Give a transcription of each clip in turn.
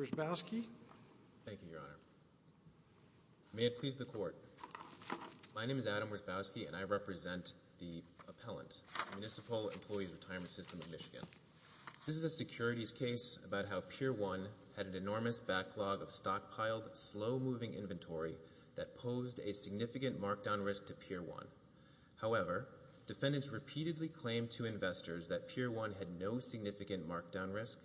Thank you, Your Honor. May it please the Court. My name is Adam Wierzbowski, and I represent the appellant, Municipal Employees Retirement System of Michigan. This is a securities case about how Pier 1 had an enormous backlog of stockpiled, slow-moving inventory that posed a significant markdown risk to Pier 1. However, defendants repeatedly claimed to investors that Pier 1 had no significant markdown risk.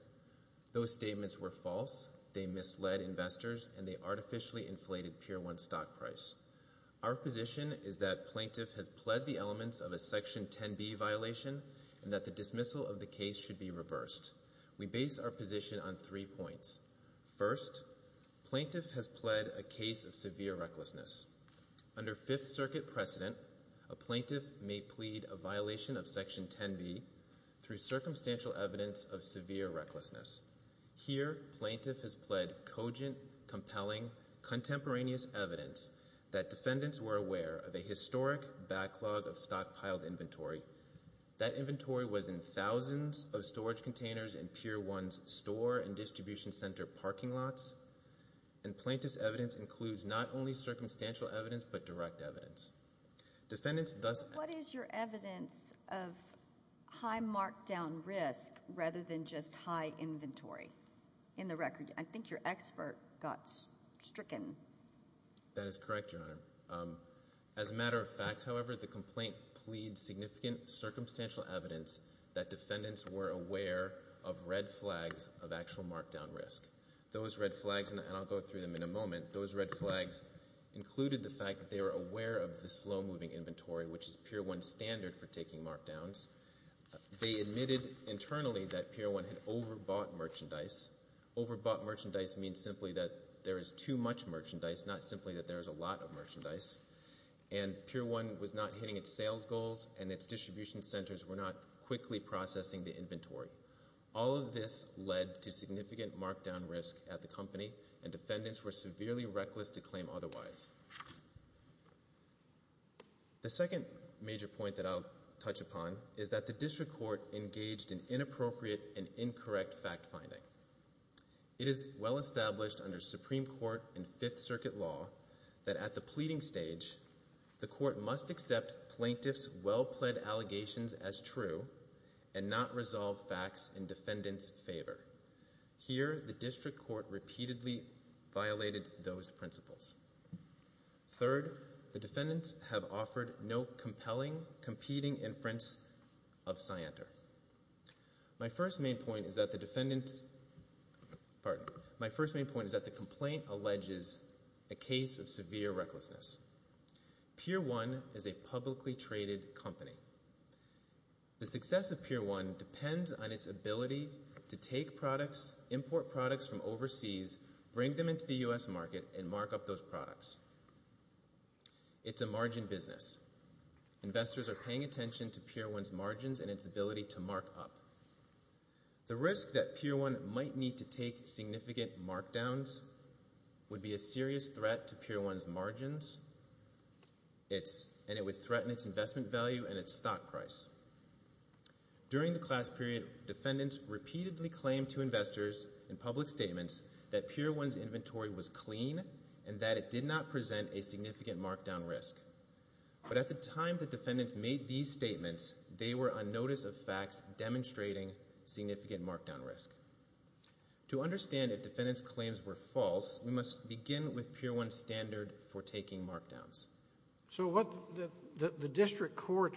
Those statements were false, they misled investors, and they artificially inflated Pier 1's stock price. Our position is that Plaintiff has pled the elements of a Section 10b violation and that the dismissal of the case should be reversed. We base our position on three points. First, Plaintiff has pled a case of severe recklessness. Under Fifth Circuit precedent, a Plaintiff may plead a violation of Section 10b through circumstantial evidence of severe recklessness. Here, Plaintiff has pled cogent, compelling, contemporaneous evidence that defendants were aware of a historic backlog of stockpiled inventory. That inventory was in thousands of storage containers in Pier 1's store and distribution center parking lots, and Plaintiff's evidence includes not only circumstantial evidence but direct evidence. Defendants thus— What is your evidence of high markdown risk rather than just high inventory? In the record, I think your expert got stricken. That is correct, Your Honor. As a matter of fact, however, the complaint pleads significant circumstantial evidence that defendants were aware of red flags of actual markdown risk. Those red flags—and I'll go through them in a moment— those red flags included the fact that they were aware of the slow-moving inventory, which is Pier 1's standard for taking markdowns. They admitted internally that Pier 1 had overbought merchandise. Overbought merchandise means simply that there is too much merchandise, not simply that there is a lot of merchandise. And Pier 1 was not hitting its sales goals, and its distribution centers were not quickly processing the inventory. All of this led to significant markdown risk at the company, and defendants were severely reckless to claim otherwise. The second major point that I'll touch upon is that the district court engaged in inappropriate and incorrect fact-finding. It is well established under Supreme Court and Fifth Circuit law that at the pleading stage, the court must accept plaintiffs' well-pled allegations as true and not resolve facts in defendants' favor. Here, the district court repeatedly violated those principles. Third, the defendants have offered no compelling, competing inference of Scienter. My first main point is that the defendant's—pardon—my first main point is that the complaint alleges a case of severe recklessness. Pier 1 is a publicly traded company. The success of Pier 1 depends on its ability to take products, import products from overseas, bring them into the U.S. market, and mark up those products. It's a margin business. Investors are paying attention to Pier 1's margins and its ability to mark up. The risk that Pier 1 might need to take significant markdowns would be a serious threat to Pier 1's margins, and it would threaten its investment value and its stock price. During the class period, defendants repeatedly claimed to investors in public statements that Pier 1's inventory was clean and that it did not present a significant markdown risk. But at the time the defendants made these statements, they were on notice of facts demonstrating significant markdown risk. To understand if defendants' claims were false, we must begin with Pier 1's standard for taking markdowns. So the district court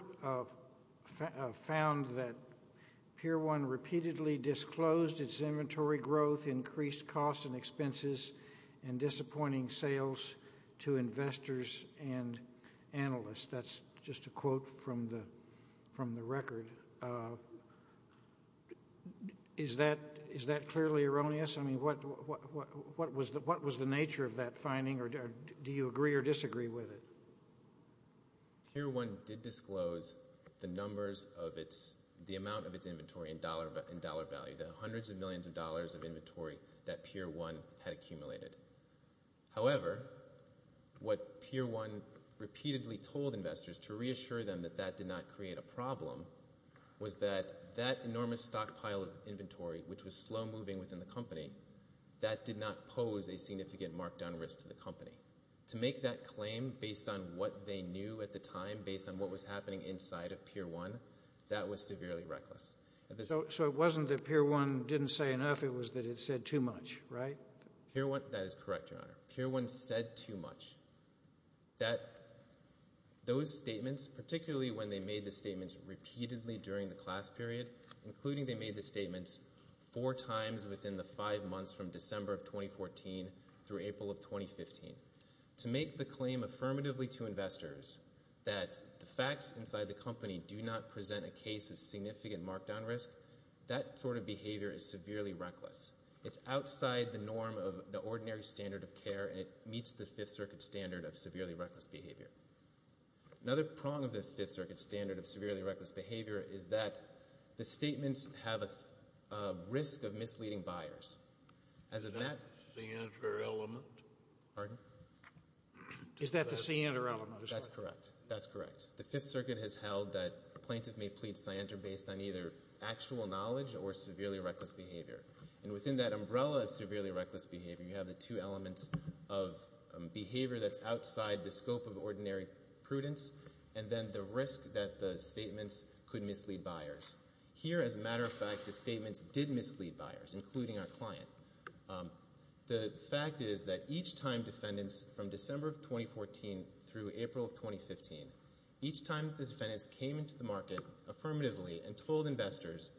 found that Pier 1 repeatedly disclosed its inventory growth, increased costs and expenses, and disappointing sales to investors and analysts. That's just a quote from the record. Is that clearly erroneous? I mean, what was the nature of that finding, or do you agree or disagree with it? Pier 1 did disclose the amount of its inventory in dollar value, the hundreds of millions of dollars of inventory that Pier 1 had accumulated. However, what Pier 1 repeatedly told investors to reassure them that that did not create a problem was that that enormous stockpile of inventory, which was slow moving within the company, that did not pose a significant markdown risk to the company. To make that claim based on what they knew at the time, based on what was happening inside of Pier 1, that was severely reckless. So it wasn't that Pier 1 didn't say enough, it was that it said too much, right? Pier 1 said too much, that those statements, particularly when they made the statements repeatedly during the class period, including they made the statements four times within the five months from December of 2014 through April of 2015. To make the claim affirmatively to investors that the facts inside the company do not present a case of significant markdown risk, that sort of behavior is severely reckless. It's outside the norm of the ordinary standard of care, and it meets the Fifth Circuit standard of severely reckless behavior. Another prong of the Fifth Circuit standard of severely reckless behavior is that the statements have a risk of misleading buyers. Is that the scienter element? Pardon? Is that the scienter element? That's correct. That's correct. The Fifth Circuit has held that a plaintiff may plead scienter based on either actual knowledge or severely reckless behavior. And within that umbrella of severely reckless behavior, you have the two elements of behavior that's outside the scope of ordinary prudence and then the risk that the statements could mislead buyers. Here, as a matter of fact, the statements did mislead buyers, including our client. The fact is that each time defendants from December of 2014 through April of 2015, each time the defendants came into the market affirmatively and told investors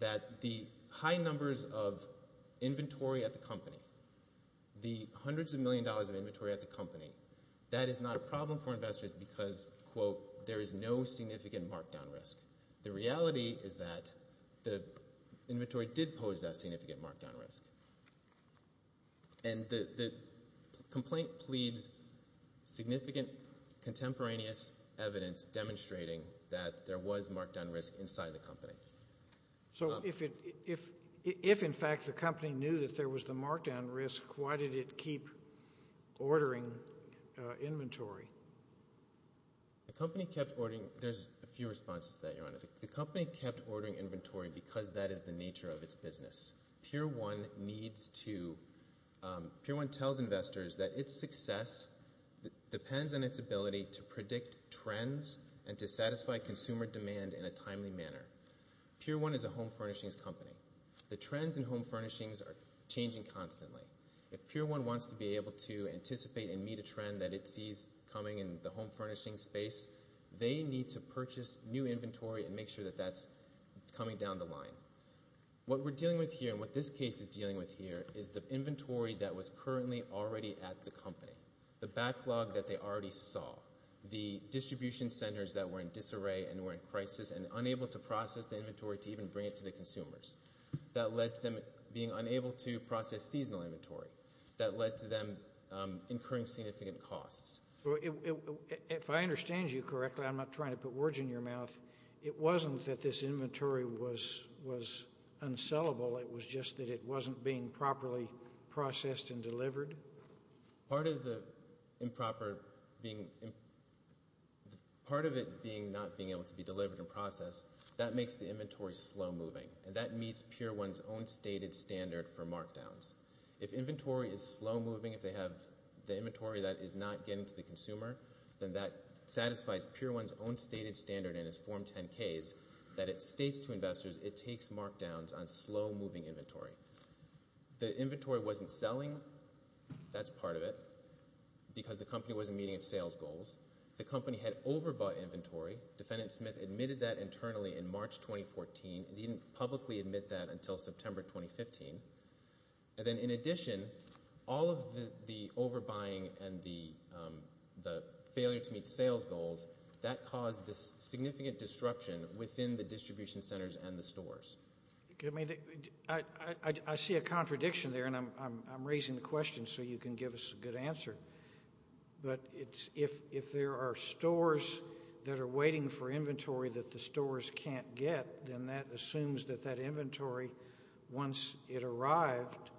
that the high numbers of inventory at the company, the hundreds of millions of dollars of inventory at the company, that is not a problem for investors because, quote, there is no significant markdown risk. The reality is that the inventory did pose that significant markdown risk. And the complaint pleads significant contemporaneous evidence demonstrating that there was markdown risk inside the company. So if, in fact, the company knew that there was the markdown risk, why did it keep ordering inventory? The company kept ordering. There's a few responses to that, Your Honor. The company kept ordering inventory because that is the nature of its business. PeerOne tells investors that its success depends on its ability to predict trends and to satisfy consumer demand in a timely manner. PeerOne is a home furnishings company. The trends in home furnishings are changing constantly. If PeerOne wants to be able to anticipate and meet a trend that it sees coming in the home furnishings space, they need to purchase new inventory and make sure that that's coming down the line. What we're dealing with here and what this case is dealing with here is the inventory that was currently already at the company, the backlog that they already saw, the distribution centers that were in disarray and were in crisis and unable to process the inventory to even bring it to the consumers. That led to them being unable to process seasonal inventory. That led to them incurring significant costs. If I understand you correctly, I'm not trying to put words in your mouth, it wasn't that this inventory was unsellable, it was just that it wasn't being properly processed and delivered? Part of it being not being able to be delivered and processed, that makes the inventory slow moving, and that meets PeerOne's own stated standard for markdowns. If inventory is slow moving, if they have the inventory that is not getting to the consumer, then that satisfies PeerOne's own stated standard in its Form 10-Ks that it states to investors it takes markdowns on slow moving inventory. The inventory wasn't selling, that's part of it, because the company wasn't meeting its sales goals. The company had overbought inventory. Defendant Smith admitted that internally in March 2014. He didn't publicly admit that until September 2015. Then in addition, all of the overbuying and the failure to meet sales goals, that caused this significant disruption within the distribution centers and the stores. I see a contradiction there, and I'm raising the question so you can give us a good answer. But if there are stores that are waiting for inventory that the stores can't get, then that assumes that that inventory, once it arrived,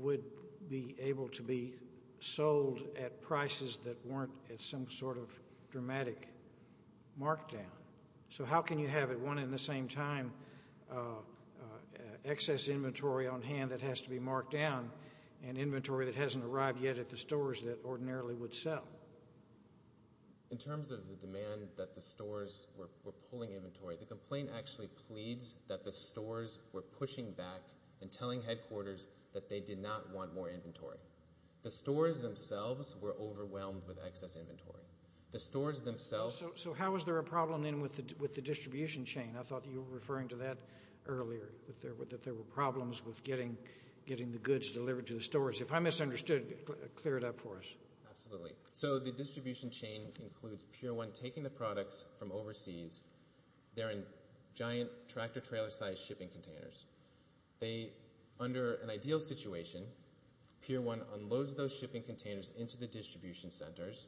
would be able to be sold at prices that weren't at some sort of dramatic markdown. So how can you have at one and the same time excess inventory on hand that has to be marked down and inventory that hasn't arrived yet at the stores that ordinarily would sell? In terms of the demand that the stores were pulling inventory, the complaint actually pleads that the stores were pushing back and telling headquarters that they did not want more inventory. The stores themselves were overwhelmed with excess inventory. So how was there a problem then with the distribution chain? I thought you were referring to that earlier, that there were problems with getting the goods delivered to the stores. If I misunderstood, clear it up for us. Absolutely. So the distribution chain includes Pier 1 taking the products from overseas. They're in giant tractor-trailer-sized shipping containers. Under an ideal situation, Pier 1 unloads those shipping containers into the distribution centers.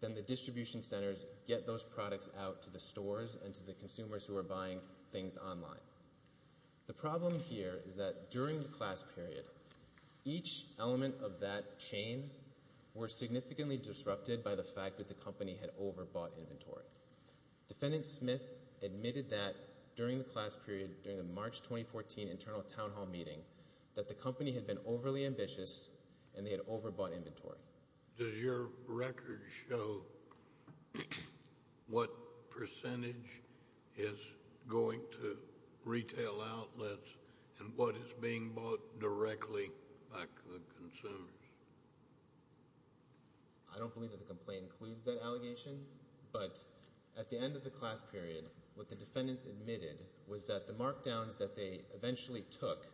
Then the distribution centers get those products out to the stores and to the consumers who are buying things online. The problem here is that during the class period, each element of that chain were significantly disrupted by the fact that the company had overbought inventory. Defendant Smith admitted that during the class period, during the March 2014 internal town hall meeting, that the company had been overly ambitious and they had overbought inventory. Does your record show what percentage is going to retail outlets and what is being bought directly by consumers? I don't believe that the complaint includes that allegation, but at the end of the class period, what the defendants admitted was that the markdowns that they eventually took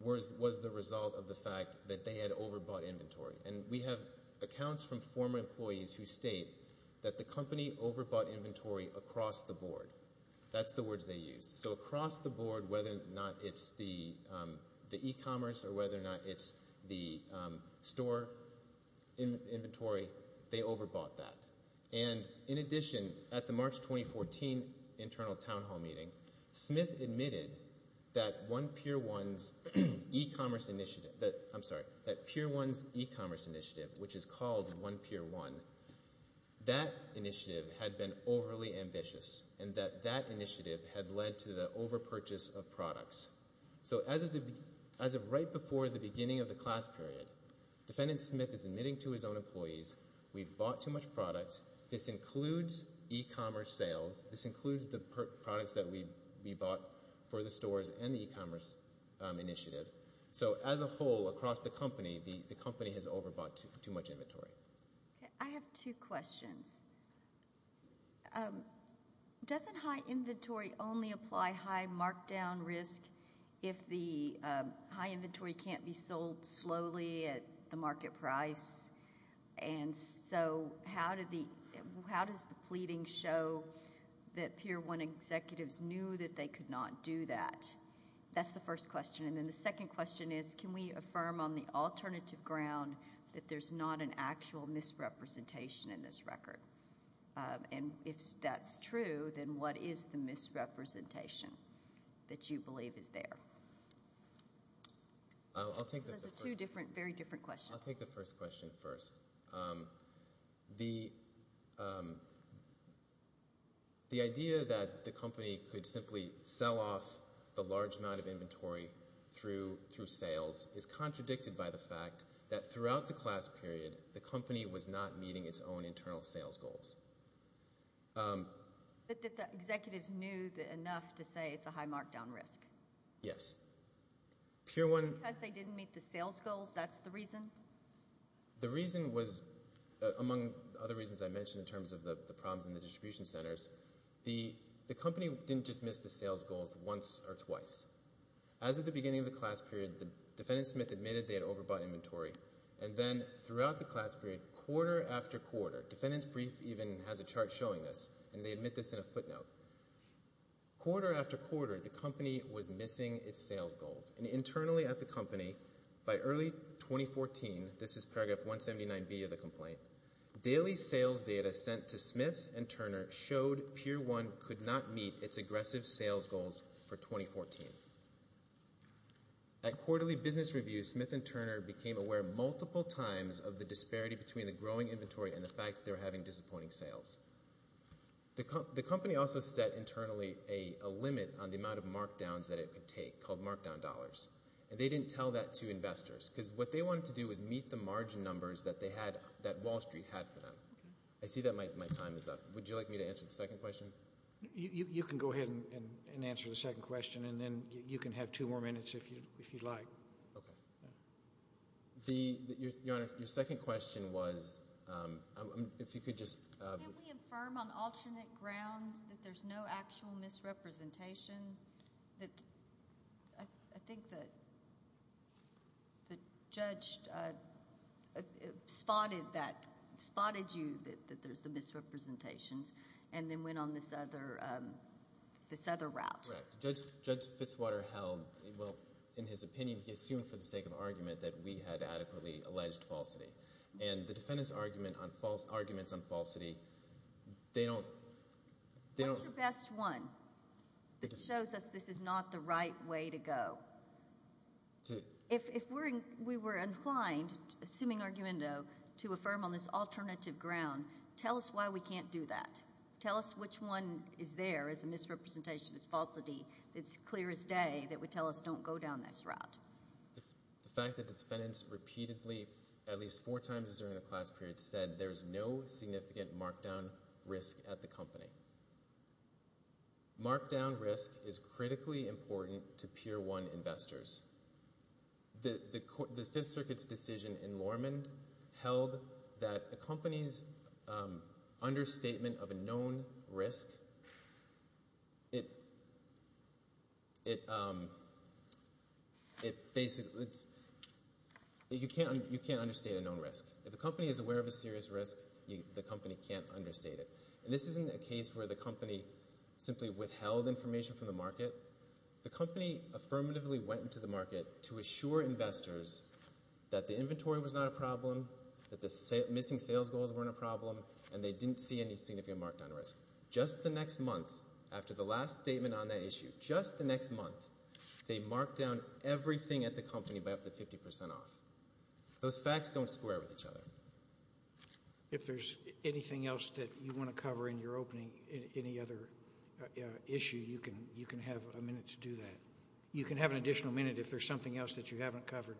was the result of the fact that they had overbought inventory. And we have accounts from former employees who state that the company overbought inventory across the board. That's the words they used. So across the board, whether or not it's the e-commerce or whether or not it's the store inventory, they overbought that. And in addition, at the March 2014 internal town hall meeting, Smith admitted that One Peer One's e-commerce initiative, I'm sorry, that Peer One's e-commerce initiative, which is called One Peer One, that initiative had been overly ambitious and that that initiative had led to the overpurchase of products. So as of right before the beginning of the class period, Defendant Smith is admitting to his own employees, we bought too much product. This includes e-commerce sales. This includes the products that we bought for the stores and the e-commerce initiative. So as a whole, across the company, the company has overbought too much inventory. I have two questions. Doesn't high inventory only apply high markdown risk if the high inventory can't be sold slowly at the market price? And so how does the pleading show that Peer One executives knew that they could not do that? That's the first question. And then the second question is, can we affirm on the alternative ground that there's not an actual misrepresentation in this record? And if that's true, then what is the misrepresentation that you believe is there? Those are two very different questions. I'll take the first question first. The idea that the company could simply sell off the large amount of inventory through sales is contradicted by the fact that throughout the class period, the company was not meeting its own internal sales goals. But that the executives knew enough to say it's a high markdown risk? Yes. Because they didn't meet the sales goals, that's the reason? The reason was, among other reasons I mentioned in terms of the problems in the distribution centers, the company didn't just miss the sales goals once or twice. As of the beginning of the class period, the defendant Smith admitted they had overbought inventory. And then throughout the class period, quarter after quarter, defendant's brief even has a chart showing this, and they admit this in a footnote. Quarter after quarter, the company was missing its sales goals. And internally at the company, by early 2014, this is paragraph 179B of the complaint, daily sales data sent to Smith and Turner showed Pier 1 could not meet its aggressive sales goals for 2014. At quarterly business review, Smith and Turner became aware multiple times of the disparity between the growing inventory and the fact they were having disappointing sales. The company also set internally a limit on the amount of markdowns that it could take called markdown dollars, and they didn't tell that to investors. Because what they wanted to do was meet the margin numbers that Wall Street had for them. I see that my time is up. Would you like me to answer the second question? You can go ahead and answer the second question, and then you can have two more minutes if you'd like. Okay. Your Honor, your second question was, if you could just— Can we affirm on alternate grounds that there's no actual misrepresentation? I think that the judge spotted you that there's the misrepresentation and then went on this other route. Correct. Judge Fitzwater held, well, in his opinion, he assumed for the sake of argument that we had adequately alleged falsity. And the defendant's arguments on falsity, they don't— What's the best one that shows us this is not the right way to go? If we were inclined, assuming argumento, to affirm on this alternative ground, tell us why we can't do that. Tell us which one is there as a misrepresentation, as falsity, that's clear as day that would tell us don't go down this route. The fact that the defendants repeatedly, at least four times during the class period, said there's no significant markdown risk at the company. Markdown risk is critically important to Pier 1 investors. The Fifth Circuit's decision in Lorman held that a company's understatement of a known risk, it basically—you can't understate a known risk. If a company is aware of a serious risk, the company can't understate it. And this isn't a case where the company simply withheld information from the market. The company affirmatively went into the market to assure investors that the inventory was not a problem, that the missing sales goals weren't a problem, and they didn't see any significant markdown risk. Just the next month after the last statement on that issue, just the next month, they marked down everything at the company by up to 50% off. Those facts don't square with each other. If there's anything else that you want to cover in your opening, any other issue, you can have a minute to do that. You can have an additional minute if there's something else that you haven't covered.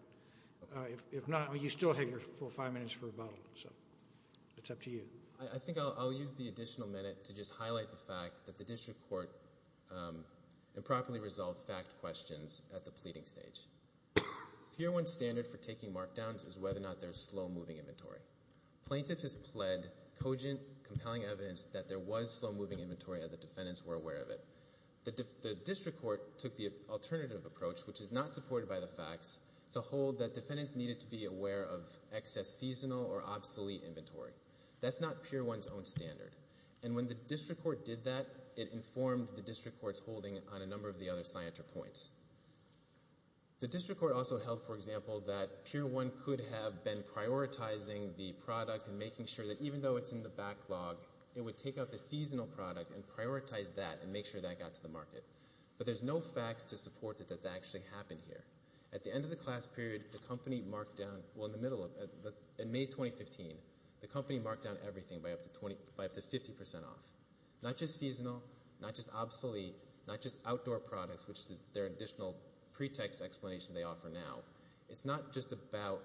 If not, you still have your full five minutes for rebuttal. So it's up to you. I think I'll use the additional minute to just highlight the fact that the district court improperly resolved fact questions at the pleading stage. Pier 1 standard for taking markdowns is whether or not there's slow-moving inventory. Plaintiff has pled cogent, compelling evidence that there was slow-moving inventory and the defendants were aware of it. It's a hold that defendants needed to be aware of excess seasonal or obsolete inventory. That's not Pier 1's own standard. And when the district court did that, it informed the district court's holding on a number of the other scienter points. The district court also held, for example, that Pier 1 could have been prioritizing the product and making sure that even though it's in the backlog, it would take out the seasonal product and prioritize that and make sure that got to the market. But there's no facts to support that that actually happened here. At the end of the class period, the company marked down, well, in May 2015, the company marked down everything by up to 50% off. Not just seasonal, not just obsolete, not just outdoor products, which is their additional pretext explanation they offer now. It's not just about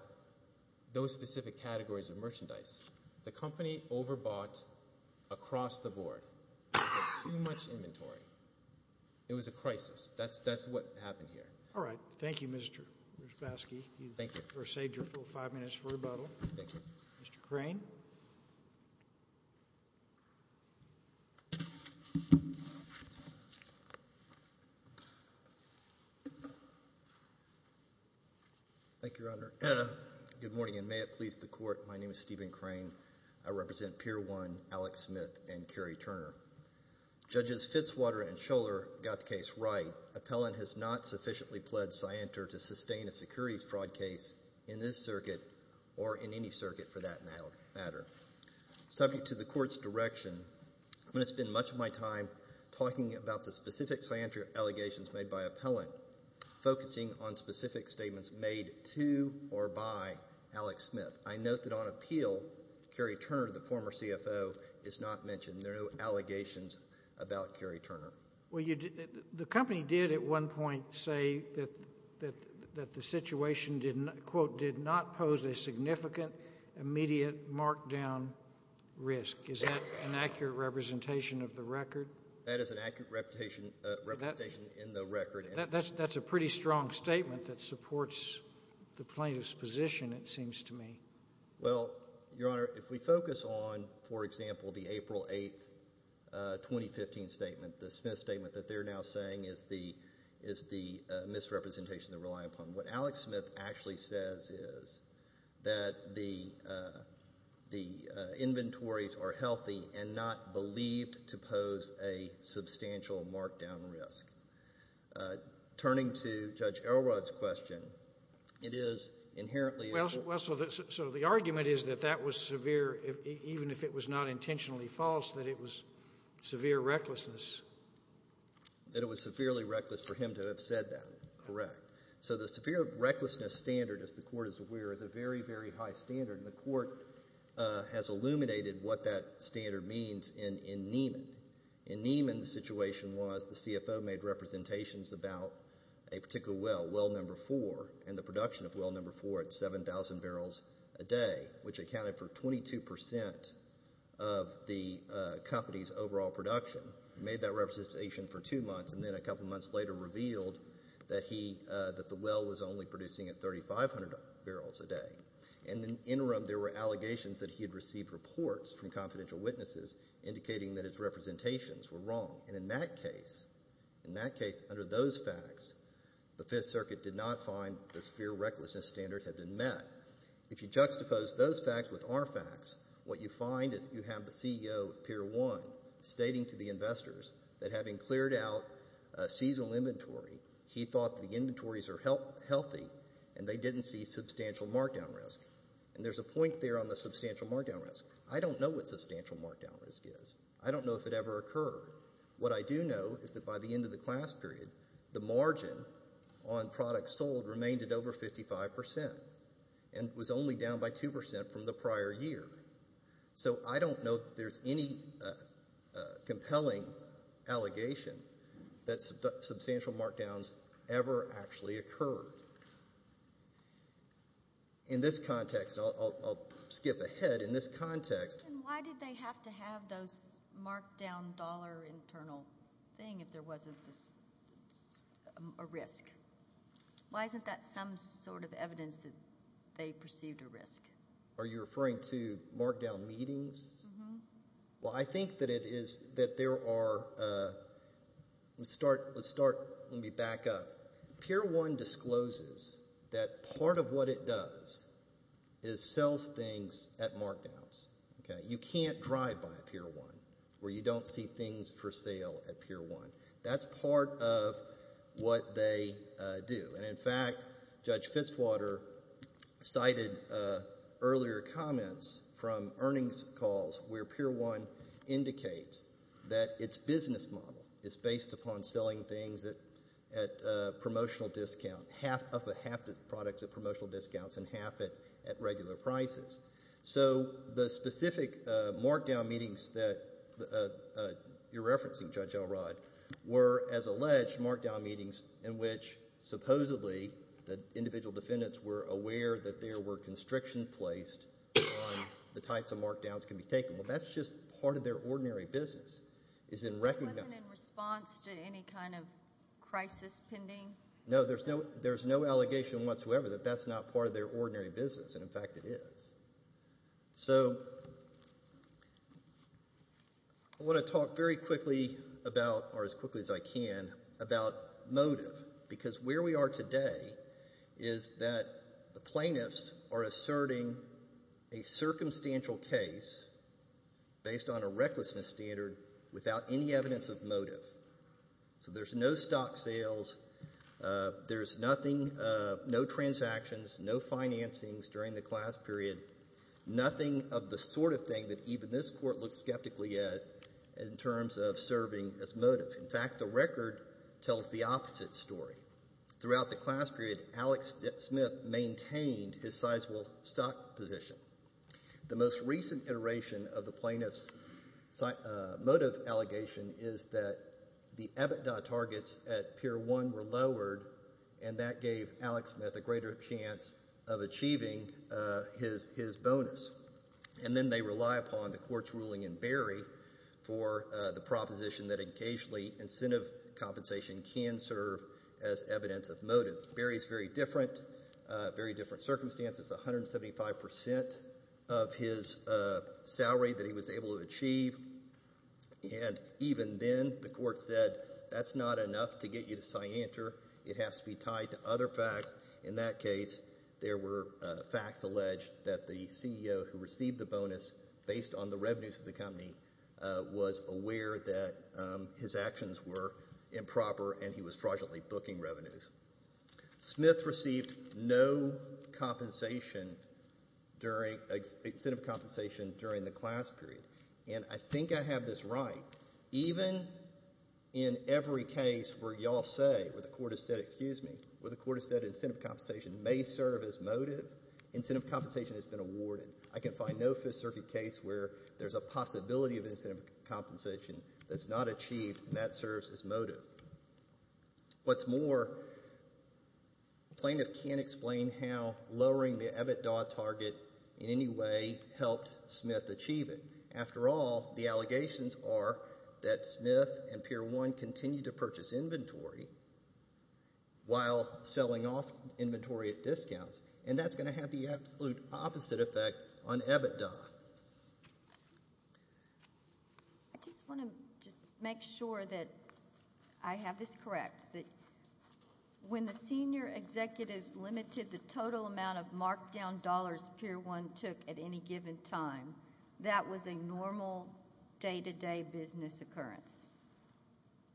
those specific categories of merchandise. The company overbought across the board. They had too much inventory. It was a crisis. That's what happened here. All right. Thank you, Mr. Ryczkowski. Thank you. You've saved your full five minutes for rebuttal. Thank you. Mr. Crane. Thank you, Your Honor. Good morning, and may it please the court, my name is Stephen Crane. I represent Pier 1, Alex Smith, and Kerry Turner. Judges Fitzwater and Scholar got the case right. Appellant has not sufficiently pled scienter to sustain a securities fraud case in this circuit or in any circuit for that matter. Subject to the court's direction, I'm going to spend much of my time talking about the specific scienter allegations made by appellant, focusing on specific statements made to or by Alex Smith. I note that on appeal, Kerry Turner, the former CFO, is not mentioned. There are no allegations about Kerry Turner. Well, the company did at one point say that the situation, quote, did not pose a significant immediate markdown risk. Is that an accurate representation of the record? That is an accurate representation in the record. That's a pretty strong statement that supports the plaintiff's position, it seems to me. Well, Your Honor, if we focus on, for example, the April 8th, 2015 statement, the Smith statement that they're now saying is the misrepresentation they're relying upon, what Alex Smith actually says is that the inventories are healthy and not believed to pose a substantial markdown risk. Turning to Judge Elrod's question, it is inherently a- Well, so the argument is that that was severe, even if it was not intentionally false, that it was severe recklessness. That it was severely reckless for him to have said that, correct. So the severe recklessness standard, as the Court is aware, is a very, very high standard, and the Court has illuminated what that standard means in Neiman. In Neiman, the situation was the CFO made representations about a particular well, well number four, and the production of well number four at 7,000 barrels a day, which accounted for 22% of the company's overall production. He made that representation for two months, and then a couple months later revealed that the well was only producing at 3,500 barrels a day. In the interim, there were allegations that he had received reports from confidential witnesses indicating that his representations were wrong. And in that case, under those facts, the Fifth Circuit did not find the severe recklessness standard had been met. If you juxtapose those facts with our facts, what you find is you have the CEO of Pier 1 stating to the investors that having cleared out seasonal inventory, he thought the inventories were healthy and they didn't see substantial markdown risk. And there's a point there on the substantial markdown risk. I don't know what substantial markdown risk is. I don't know if it ever occurred. What I do know is that by the end of the class period, the margin on products sold remained at over 55% and was only down by 2% from the prior year. So I don't know if there's any compelling allegation that substantial markdowns ever actually occurred. In this context, I'll skip ahead. And why did they have to have those markdown dollar internal thing if there wasn't a risk? Why isn't that some sort of evidence that they perceived a risk? Are you referring to markdown meetings? Well, I think that it is that there are a start. Let me back up. Pier 1 discloses that part of what it does is sells things at markdowns. You can't drive by Pier 1 where you don't see things for sale at Pier 1. That's part of what they do. And, in fact, Judge Fitzwater cited earlier comments from earnings calls where Pier 1 indicates that its business model is based upon selling things at promotional discount, half of the products at promotional discounts and half at regular prices. So the specific markdown meetings that you're referencing, Judge Elrod, were, as alleged, markdown meetings in which, supposedly, the individual defendants were aware that there were constriction placed on the types of markdowns that can be taken. Well, that's just part of their ordinary business. It wasn't in response to any kind of crisis pending? No, there's no allegation whatsoever that that's not part of their ordinary business, and, in fact, it is. So I want to talk very quickly about, or as quickly as I can, about motive, because where we are today is that the plaintiffs are asserting a circumstantial case based on a recklessness standard without any evidence of motive. So there's no stock sales. There's nothing, no transactions, no financings during the class period, nothing of the sort of thing that even this court looks skeptically at in terms of serving as motive. In fact, the record tells the opposite story. Throughout the class period, Alex Smith maintained his sizable stock position. The most recent iteration of the plaintiff's motive allegation is that the EBITDA targets at Pier 1 were lowered, and that gave Alex Smith a greater chance of achieving his bonus. And then they rely upon the court's ruling in Berry for the proposition that occasionally incentive compensation can serve as evidence of motive. So Berry's very different, very different circumstances. 175% of his salary that he was able to achieve, and even then the court said that's not enough to get you to scienter. It has to be tied to other facts. In that case, there were facts alleged that the CEO who received the bonus based on the revenues of the company was aware that his actions were improper, and he was fraudulently booking revenues. Smith received no compensation during incentive compensation during the class period. And I think I have this right. Even in every case where you all say, where the court has said, excuse me, where the court has said incentive compensation may serve as motive, incentive compensation has been awarded. I can find no Fifth Circuit case where there's a possibility of incentive compensation that's not achieved and that serves as motive. What's more, plaintiff can't explain how lowering the EBITDA target in any way helped Smith achieve it. After all, the allegations are that Smith and Peer 1 continued to purchase inventory while selling off inventory at discounts, and that's going to have the absolute opposite effect on EBITDA. I just want to just make sure that I have this correct, that when the senior executives limited the total amount of markdown dollars Peer 1 took at any given time, that was a normal day-to-day business occurrence.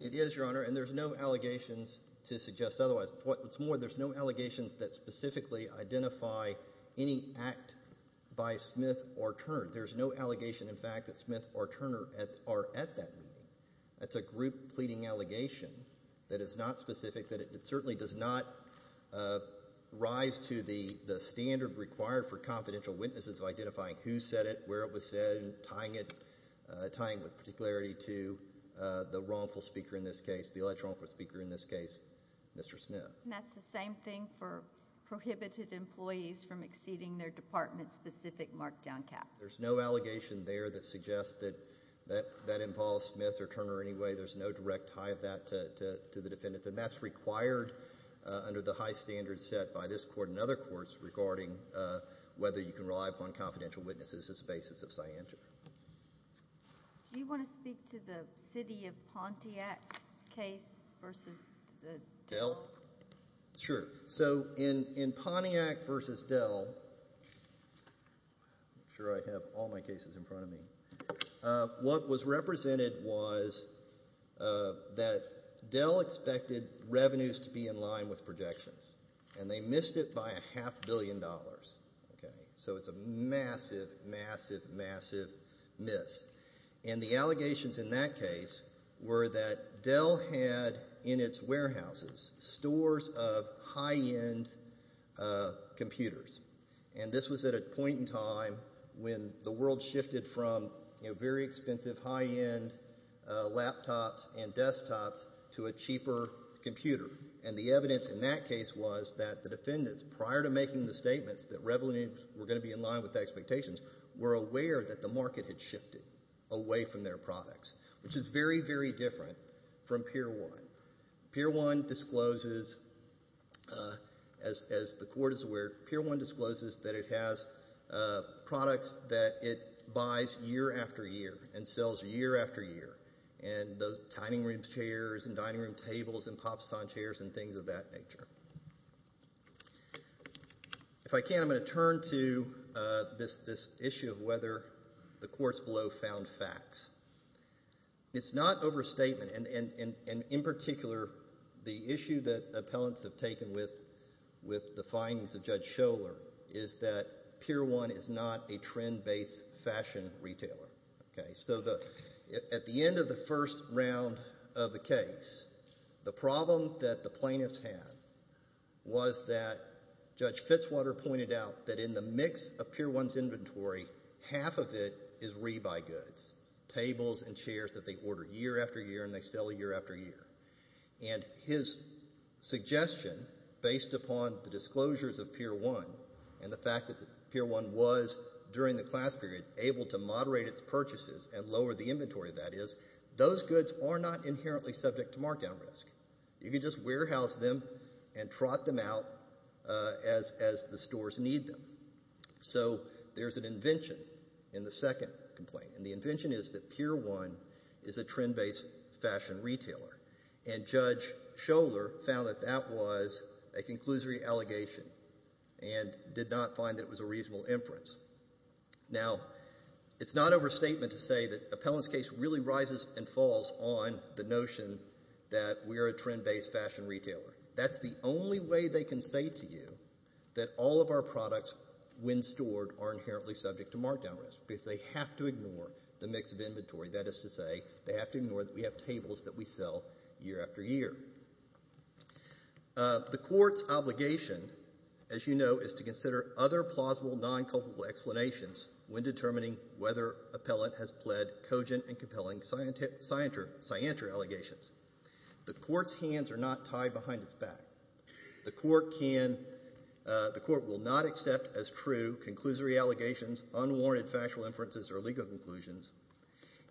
It is, Your Honor, and there's no allegations to suggest otherwise. What's more, there's no allegations that specifically identify any act by Smith or Turner. There's no allegation, in fact, that Smith or Turner are at that meeting. That's a group pleading allegation that is not specific, that it certainly does not rise to the standard required for confidential witnesses of identifying who said it, where it was said, and tying it with particularity to the wrongful speaker in this case, the electoral wrongful speaker in this case, Mr. Smith. And that's the same thing for prohibited employees from exceeding their department-specific markdown caps. There's no allegation there that suggests that in Paul Smith or Turner anyway, there's no direct tie of that to the defendants, and that's required under the high standard set by this Court and other courts regarding whether you can rely upon confidential witnesses as a basis of scienter. Do you want to speak to the city of Pontiac case versus Dell? Sure. So in Pontiac versus Dell, I'm sure I have all my cases in front of me, what was represented was that Dell expected revenues to be in line with projections, and they missed it by a half billion dollars. So it's a massive, massive, massive miss. And the allegations in that case were that Dell had in its warehouses stores of high-end computers, and this was at a point in time when the world shifted from very expensive high-end laptops and desktops to a cheaper computer. And the evidence in that case was that the defendants, because the revenues were going to be in line with the expectations, were aware that the market had shifted away from their products, which is very, very different from Pier 1. Pier 1 discloses, as the Court is aware, Pier 1 discloses that it has products that it buys year after year and sells year after year, and the dining room chairs and dining room tables and pop-scene chairs and things of that nature. If I can, I'm going to turn to this issue of whether the courts below found facts. It's not overstatement, and in particular, the issue that appellants have taken with the findings of Judge Schoeller is that Pier 1 is not a trend-based fashion retailer. So at the end of the first round of the case, the problem that the plaintiffs had was that Judge Fitzwater pointed out that in the mix of Pier 1's inventory, half of it is rebuy goods, tables and chairs that they order year after year and they sell year after year. And his suggestion, based upon the disclosures of Pier 1 and the fact that Pier 1 was, during the class period, able to moderate its purchases and lower the inventory, that is, those goods are not inherently subject to markdown risk. You can just warehouse them and trot them out as the stores need them. So there's an invention in the second complaint, and the invention is that Pier 1 is a trend-based fashion retailer, and Judge Schoeller found that that was a conclusory allegation and did not find that it was a reasonable inference. Now, it's not overstatement to say that Appellant's case really rises and falls on the notion that we are a trend-based fashion retailer. That's the only way they can say to you that all of our products, when stored, are inherently subject to markdown risk because they have to ignore the mix of inventory. That is to say, they have to ignore that we have tables that we sell year after year. The court's obligation, as you know, is to consider other plausible non-culpable explanations when determining whether Appellant has pled cogent and compelling scienter allegations. The court's hands are not tied behind its back. The court will not accept as true conclusory allegations, unwarranted factual inferences, or legal conclusions,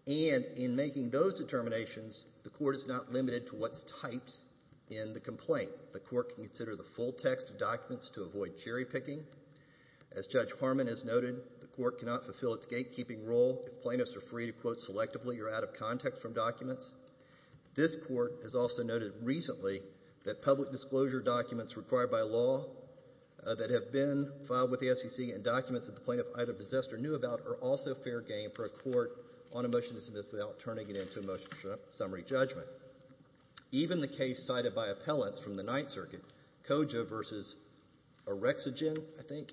and in making those determinations, the court is not limited to what's typed in the complaint. The court can consider the full text of documents to avoid cherry-picking. As Judge Harmon has noted, the court cannot fulfill its gatekeeping role if plaintiffs are free to quote selectively or out of context from documents. This court has also noted recently that public disclosure documents required by law that have been filed with the SEC and documents that the plaintiff either possessed or knew about are also fair game for a court on a motion to submit without turning it into a motion to summary judgment. So even the case cited by Appellants from the Ninth Circuit, cogent versus orexogen, I think,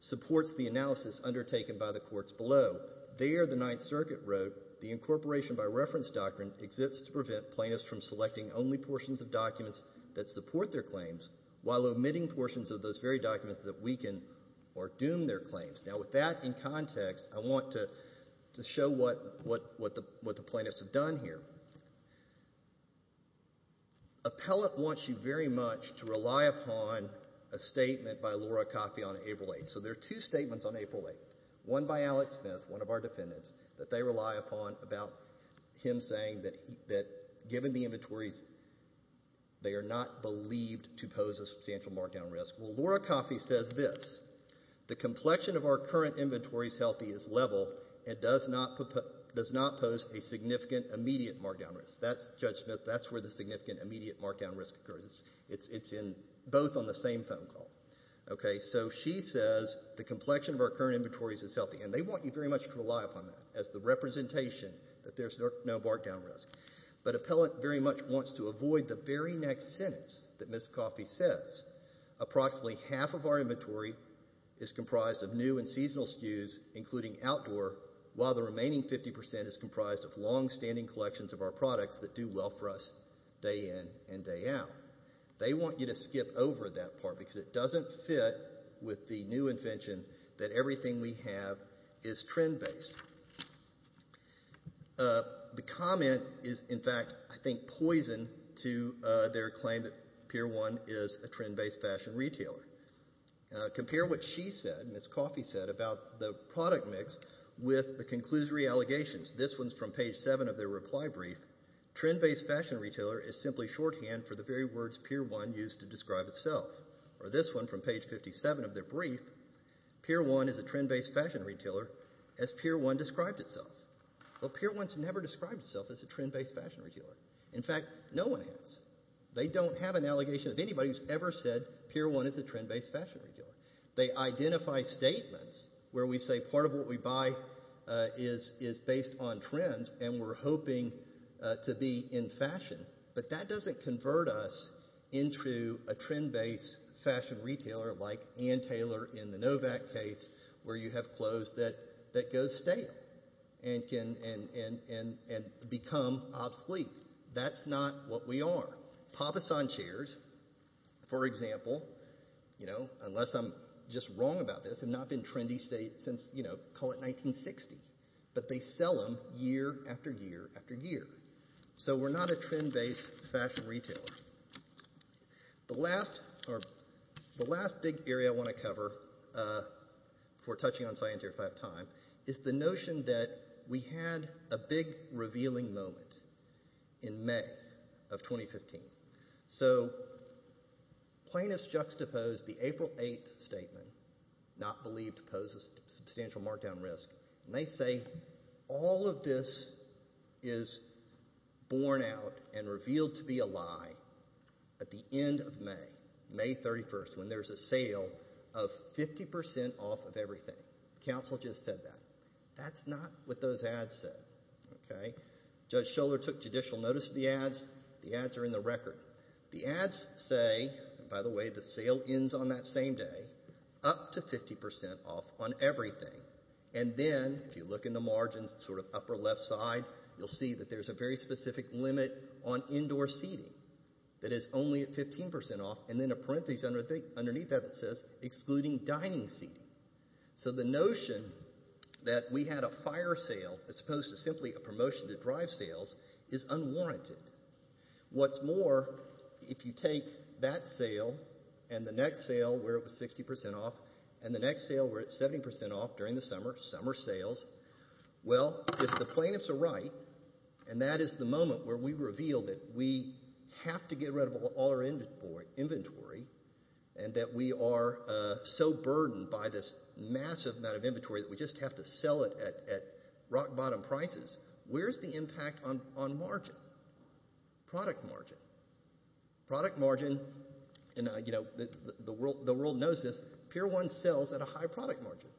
supports the analysis undertaken by the courts below. There, the Ninth Circuit wrote, the incorporation by reference doctrine exists to prevent plaintiffs from selecting only portions of documents that support their claims while omitting portions of those very documents that weaken or doom their claims. Now, with that in context, I want to show what the plaintiffs have done here. Appellant wants you very much to rely upon a statement by Laura Coffey on April 8th. So there are two statements on April 8th, one by Alex Smith, one of our defendants, that they rely upon about him saying that, given the inventories, they are not believed to pose a substantial markdown risk. Well, Laura Coffey says this. The complexion of our current inventories healthy is level and does not pose a significant immediate markdown risk. Judge Smith, that's where the significant immediate markdown risk occurs. It's both on the same phone call. Okay, so she says the complexion of our current inventories is healthy, and they want you very much to rely upon that as the representation that there's no markdown risk. But Appellant very much wants to avoid the very next sentence that Ms. Coffey says. Approximately half of our inventory is comprised of new and seasonal SKUs, including outdoor, while the remaining 50% is comprised of longstanding collections of our products that do well for us day in and day out. They want you to skip over that part because it doesn't fit with the new invention that everything we have is trend-based. The comment is, in fact, I think poison to their claim that Pier 1 is a trend-based fashion retailer. Compare what she said, Ms. Coffey said, about the product mix with the conclusory allegations. This one's from page 7 of their reply brief. Trend-based fashion retailer is simply shorthand for the very words Pier 1 used to describe itself. Or this one from page 57 of their brief. Pier 1 is a trend-based fashion retailer as Pier 1 described itself. Well, Pier 1's never described itself as a trend-based fashion retailer. In fact, no one has. They don't have an allegation of anybody who's ever said that they're a trend-based fashion retailer. They identify statements where we say part of what we buy is based on trends and we're hoping to be in fashion. But that doesn't convert us into a trend-based fashion retailer like Ann Taylor in the Novak case where you have clothes that go stale and become obsolete. That's not what we are. Papasan chairs, for example, unless I'm just wrong about this, have not been trendy since, call it 1960. But they sell them year after year after year. So we're not a trend-based fashion retailer. The last big area I want to cover before touching on Scientia if I have time is the notion that we had a big revealing moment in May of 2015. So plaintiffs juxtaposed the April 8th statement, not believed to pose a substantial markdown risk, and they say all of this is borne out and revealed to be a lie at the end of May, May 31st, when there's a sale of 50% off of everything. Council just said that. That's not what those ads said. Judge Schoeller took judicial notice of the ads. The ads are in the record. The ads say, and by the way, the sale ends on that same day, up to 50% off on everything. And then if you look in the margins, sort of upper left side, you'll see that there's a very specific limit on indoor seating that is only at 15% off, and then a parenthesis underneath that that says excluding dining seating. So the notion that we had a fire sale as opposed to simply a promotion to drive sales is unwarranted. What's more, if you take that sale and the next sale where it was 60% off and the next sale where it's 70% off during the summer, summer sales, well, if the plaintiffs are right, and that is the moment where we reveal that we have to get rid of all our inventory and that we are so burdened by this massive amount of inventory that we just have to sell it at rock-bottom prices, where's the impact on margin, product margin? Product margin, and the world knows this, Pier 1 sells at a high product margin,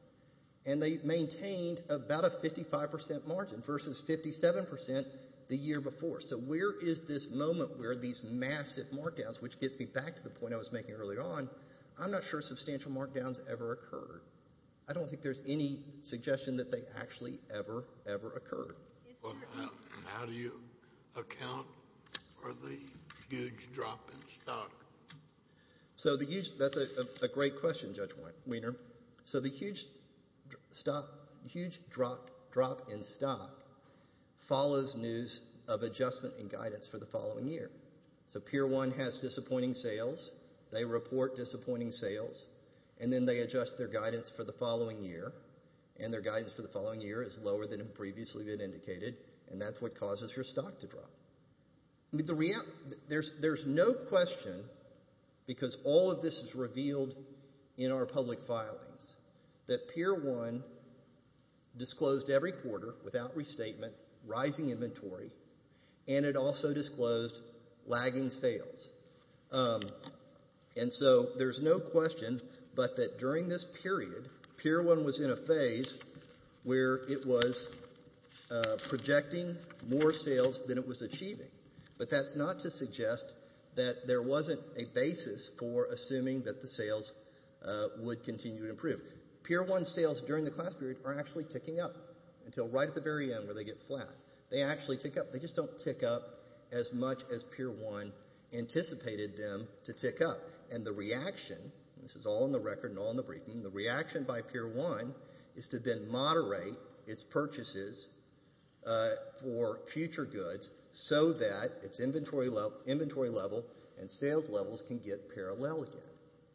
and they maintained about a 55% margin versus 57% the year before. So where is this moment where these massive markdowns, which gets me back to the point I was making earlier on, I'm not sure substantial markdowns ever occurred. I don't think there's any suggestion that they actually ever, ever occurred. How do you account for the huge drop in stock? That's a great question, Judge Wiener. So the huge drop in stock follows news of adjustment in guidance for the following year. So Pier 1 has disappointing sales. They report disappointing sales, and then they adjust their guidance for the following year, and their guidance for the following year is lower than had previously been indicated, and that's what causes your stock to drop. There's no question, because all of this is revealed in our public filings, that Pier 1 disclosed every quarter, without restatement, rising inventory, and it also disclosed lagging sales. And so there's no question but that during this period, Pier 1 was in a phase where it was projecting more sales than it was achieving, but that's not to suggest that there wasn't a basis for assuming that the sales would continue to improve. Pier 1 sales during the class period are actually ticking up until right at the very end where they get flat. They actually tick up. They just don't tick up as much as Pier 1 anticipated them to tick up. And the reaction, and this is all in the record and all in the briefing, the reaction by Pier 1 is to then moderate its purchases for future goods so that its inventory level and sales levels can get parallel again.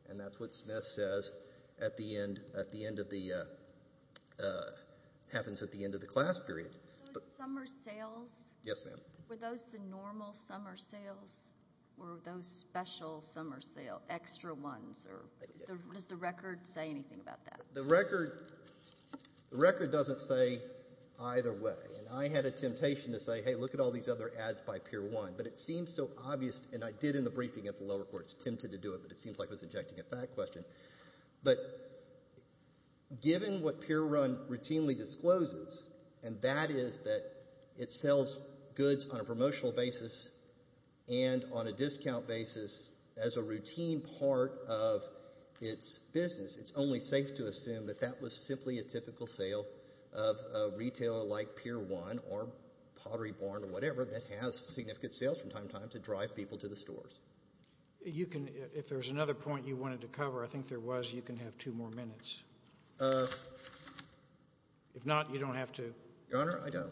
And that's what Smith says at the end of the happens at the end of the class period. Summer sales? Yes, ma'am. Were those the normal summer sales, or were those special summer sales, extra ones, or does the record say anything about that? The record doesn't say either way, and I had a temptation to say, hey, look at all these other ads by Pier 1, but it seems so obvious, and I did in the briefing at the lower courts, tempted to do it, but it seems like I was injecting a fact question. But given what Pier 1 routinely discloses, and that is that it sells goods on a promotional basis and on a discount basis as a routine part of its business, it's only safe to assume that that was simply a typical sale of a retailer like Pier 1 or Pottery Barn or whatever that has significant sales from time to time to drive people to the stores. If there's another point you wanted to cover, I think there was. You can have two more minutes. If not, you don't have to. Your Honor, I don't.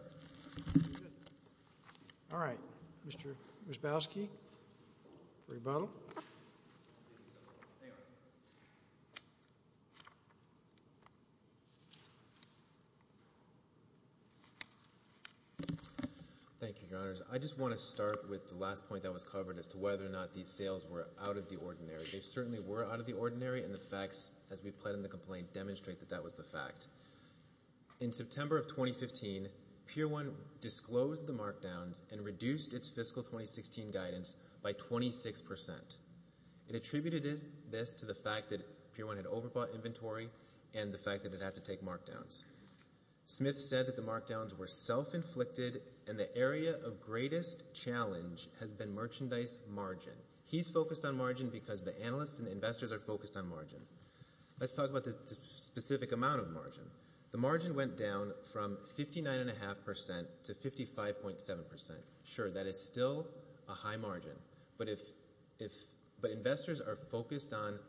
All right. Mr. Ryzbowski, rebuttal. Thank you, Your Honors. I just want to start with the last point that was covered as to whether or not these sales were out of the ordinary. They certainly were out of the ordinary, and the facts, as we've pled in the complaint, demonstrate that that was the fact. In September of 2015, Pier 1 disclosed the markdowns and reduced its fiscal 2016 guidance by 26%. It attributed this to the fact that Pier 1 had overbought inventory and the fact that it had to take markdowns. Smith said that the markdowns were self-inflicted and the area of greatest challenge has been merchandise margin. He's focused on margin because the analysts and investors are focused on margin. Let's talk about the specific amount of margin. The margin went down from 59.5% to 55.7%. Sure, that is still a high margin, but investors are focused on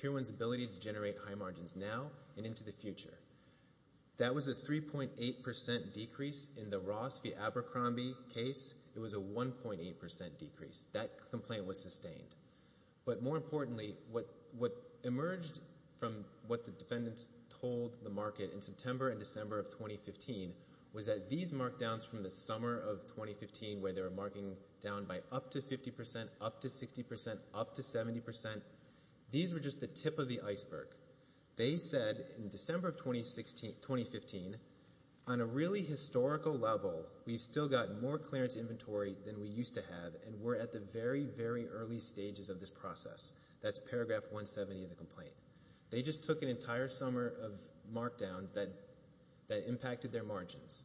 Pier 1's ability to generate high margins now and into the future. That was a 3.8% decrease. In the Ross v. Abercrombie case, it was a 1.8% decrease. That complaint was sustained. But more importantly, what emerged from what the defendants told the market in September and December of 2015 was that these markdowns from the summer of 2015, where they were marking down by up to 50%, up to 60%, up to 70%, these were just the tip of the iceberg. They said in December of 2015, on a really historical level, we've still got more clearance inventory than we used to have and we're at the very, very early stages of this process. That's paragraph 170 of the complaint. They just took an entire summer of markdowns that impacted their margins.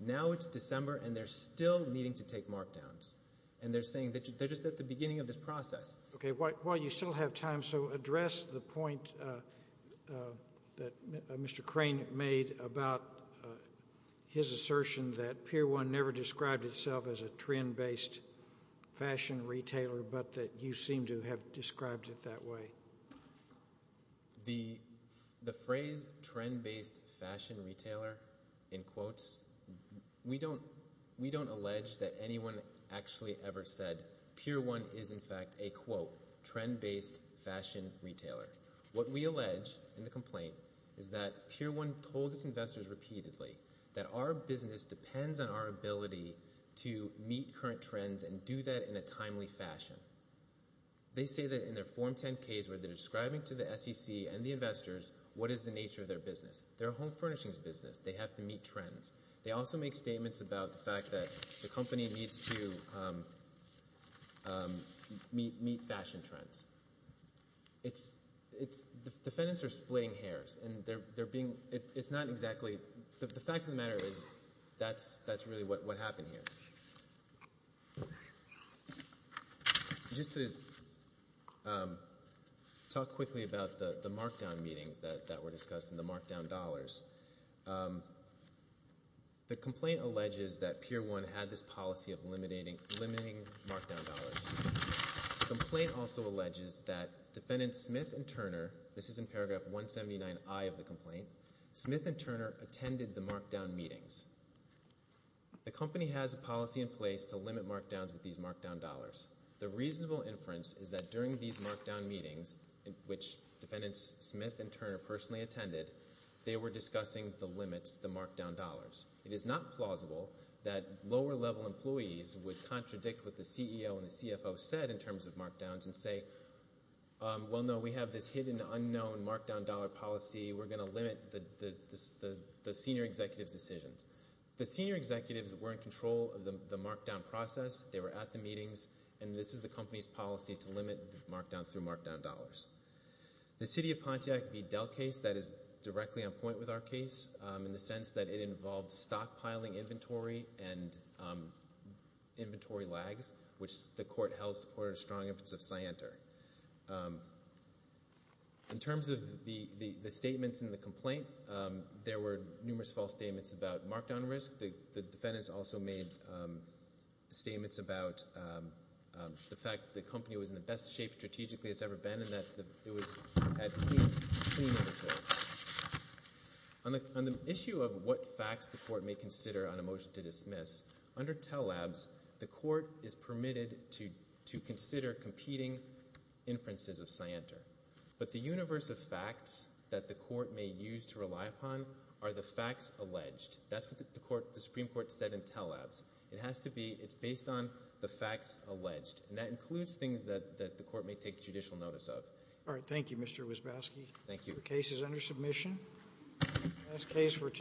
Now it's December and they're still needing to take markdowns. And they're saying that they're just at the beginning of this process. Okay, while you still have time, so address the point that Mr. Crane made about his assertion that Pier 1 never described itself as a trend-based fashion retailer but that you seem to have described it that way. The phrase trend-based fashion retailer, in quotes, we don't allege that anyone actually ever said Pier 1 is, in fact, a quote, trend-based fashion retailer. What we allege in the complaint is that Pier 1 told its investors repeatedly that our business depends on our ability to meet current trends and do that in a timely fashion. They say that in their Form 10 case where they're describing to the SEC and the investors what is the nature of their business. They're a home furnishings business. They have to meet trends. They also make statements about the fact that the company needs to meet fashion trends. Defendants are splitting hairs. And the fact of the matter is that's really what happened here. Just to talk quickly about the markdown meetings that were discussed and the markdown dollars. The complaint alleges that Pier 1 had this policy of limiting markdown dollars. The complaint also alleges that Defendants Smith and Turner, this is in paragraph 179I of the complaint, Smith and Turner attended the markdown meetings. The company has a policy in place to limit markdowns with these markdown dollars. The reasonable inference is that during these markdown meetings, which Defendants Smith and Turner personally attended, they were discussing the limits, the markdown dollars. It is not plausible that lower-level employees would contradict what the CEO and the CFO said in terms of markdowns and say, well, no, we have this hidden unknown markdown dollar policy. We're going to limit the senior executives' decisions. The senior executives were in control of the markdown process. They were at the meetings. And this is the company's policy to limit the markdown through markdown dollars. The City of Pontiac v. Dell case, that is directly on point with our case in the sense that it involved stockpiling inventory and inventory lags, which the court held supported a strong inference of Scienter. In terms of the statements in the complaint, there were numerous false statements about markdown risk. The Defendants also made statements about the fact the company was in the best shape strategically it's ever been and that it had clean inventory. On the issue of what facts the court may consider on a motion to dismiss, under Tell Labs, the court is permitted to consider competing inferences of Scienter. But the universe of facts that the court may use to rely upon are the facts alleged. That's what the Supreme Court said in Tell Labs. It has to be based on the facts alleged. That includes things that the court may take judicial notice of.